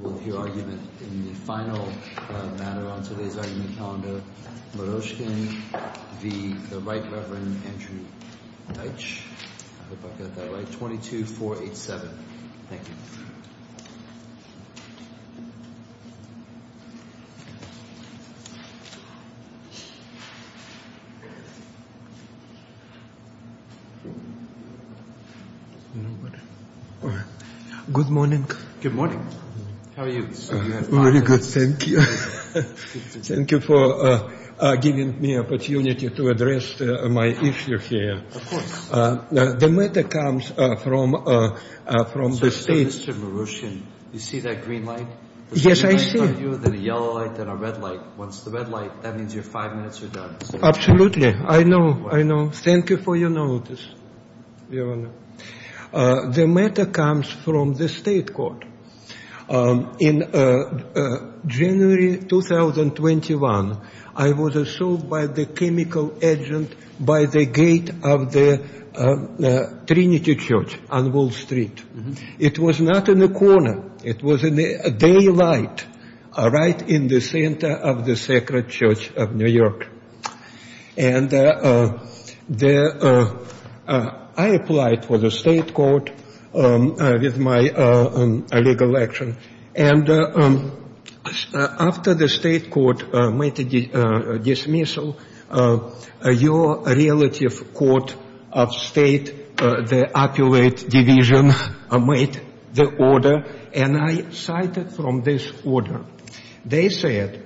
We'll hear argument in the final matter on today's argument calendar. Moroshkin v. the Right Reverend Andrew Dietsch I hope I got that right. 22487. Thank you. Good morning. Good morning. How are you? Very good. Thank you. Thank you for giving me opportunity to address my issue here. Of course. The matter comes from the state. Mr. Moroshkin, you see that green light? Yes, I see. Then a yellow light, then a red light. Once the red light, that means you're five minutes are done. Absolutely. I know. I know. Thank you for your notice, Your Honor. The matter comes from the state court. In January 2021, I was assaulted by the chemical agent by the gate of the Trinity Church on Wall Street. It was not in the corner. It was in the daylight right in the center of the Sacred Church of New York. And I applied for the state court with my legal action. And after the state court made a dismissal, your relative court of state, the appellate division, made the order. And I cited from this order. They said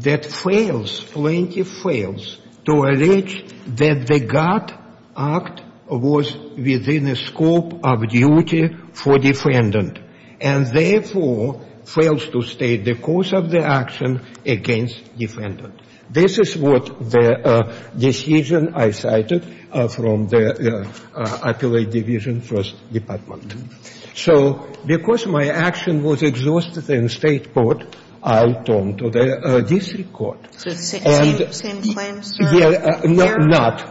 that fails, plaintiff fails to allege that the guard act was within the scope of duty for defendant. And, therefore, fails to state the cause of the action against defendant. This is what the decision I cited from the appellate division first department. So because my action was exhausted in state court, I turned to the district court. Same claim, sir?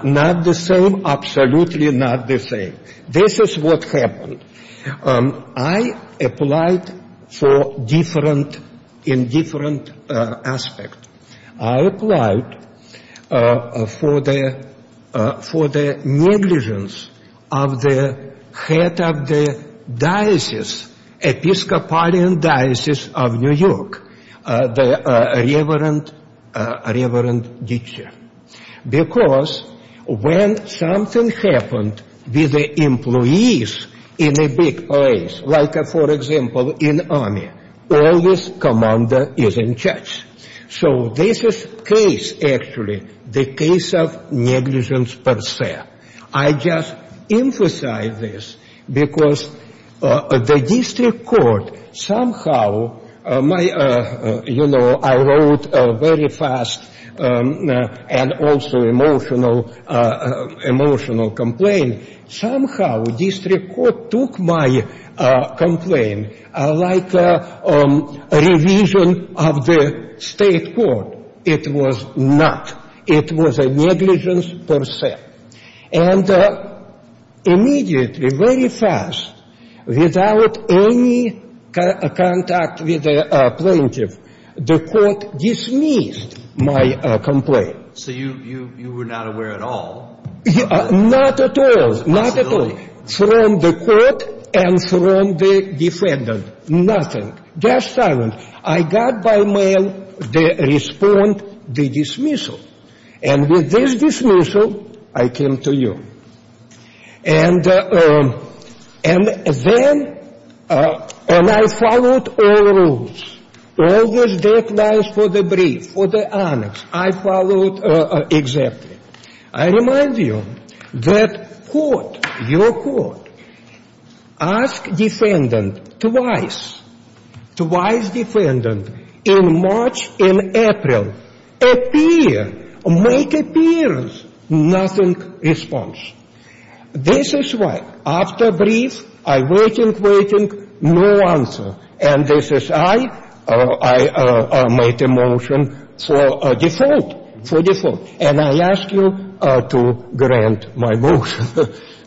Not the same. Absolutely not the same. This is what happened. I applied for different, in different aspect. I applied for the negligence of the head of the diocese, Episcopalian Diocese of New York, the Reverend Ditcher. Because when something happened with the employees in a big place, like, for example, in army, always commander is in charge. So this is case, actually, the case of negligence per se. I just emphasize this because the district court somehow, you know, I wrote a very fast and also emotional complaint. Somehow district court took my complaint like a revision of the state court. It was not. It was a negligence per se. And immediately, very fast, without any contact with the plaintiff, the court dismissed my complaint. So you were not aware at all of the possibility? Not at all. Not at all. From the court and from the defendant. Nothing. Just silence. I got by mail the response, the dismissal. And with this dismissal, I came to you. And then, and I followed all rules. All those deadlines for the brief, for the annex, I followed exactly. I remind you that court, your court, ask defendant twice, twice defendant, in March, in April, appear, make appearance, nothing response. This is why after brief, I waiting, waiting, no answer. And this is I, I made a motion for default, for default. And I ask you to grant my motion.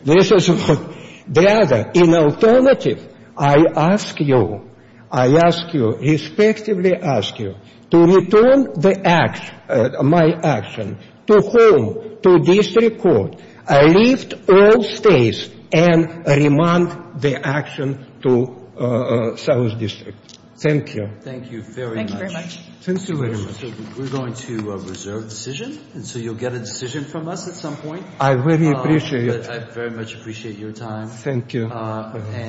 This is what the other. In alternative, I ask you, I ask you, respectively ask you to return the action, my action, to home, to district court. Lift all stays and remand the action to South District. Thank you. Thank you very much. Thank you very much. Thank you very much. We're going to reserve decision. And so you'll get a decision from us at some point. I very appreciate it. I very much appreciate your time. Thank you.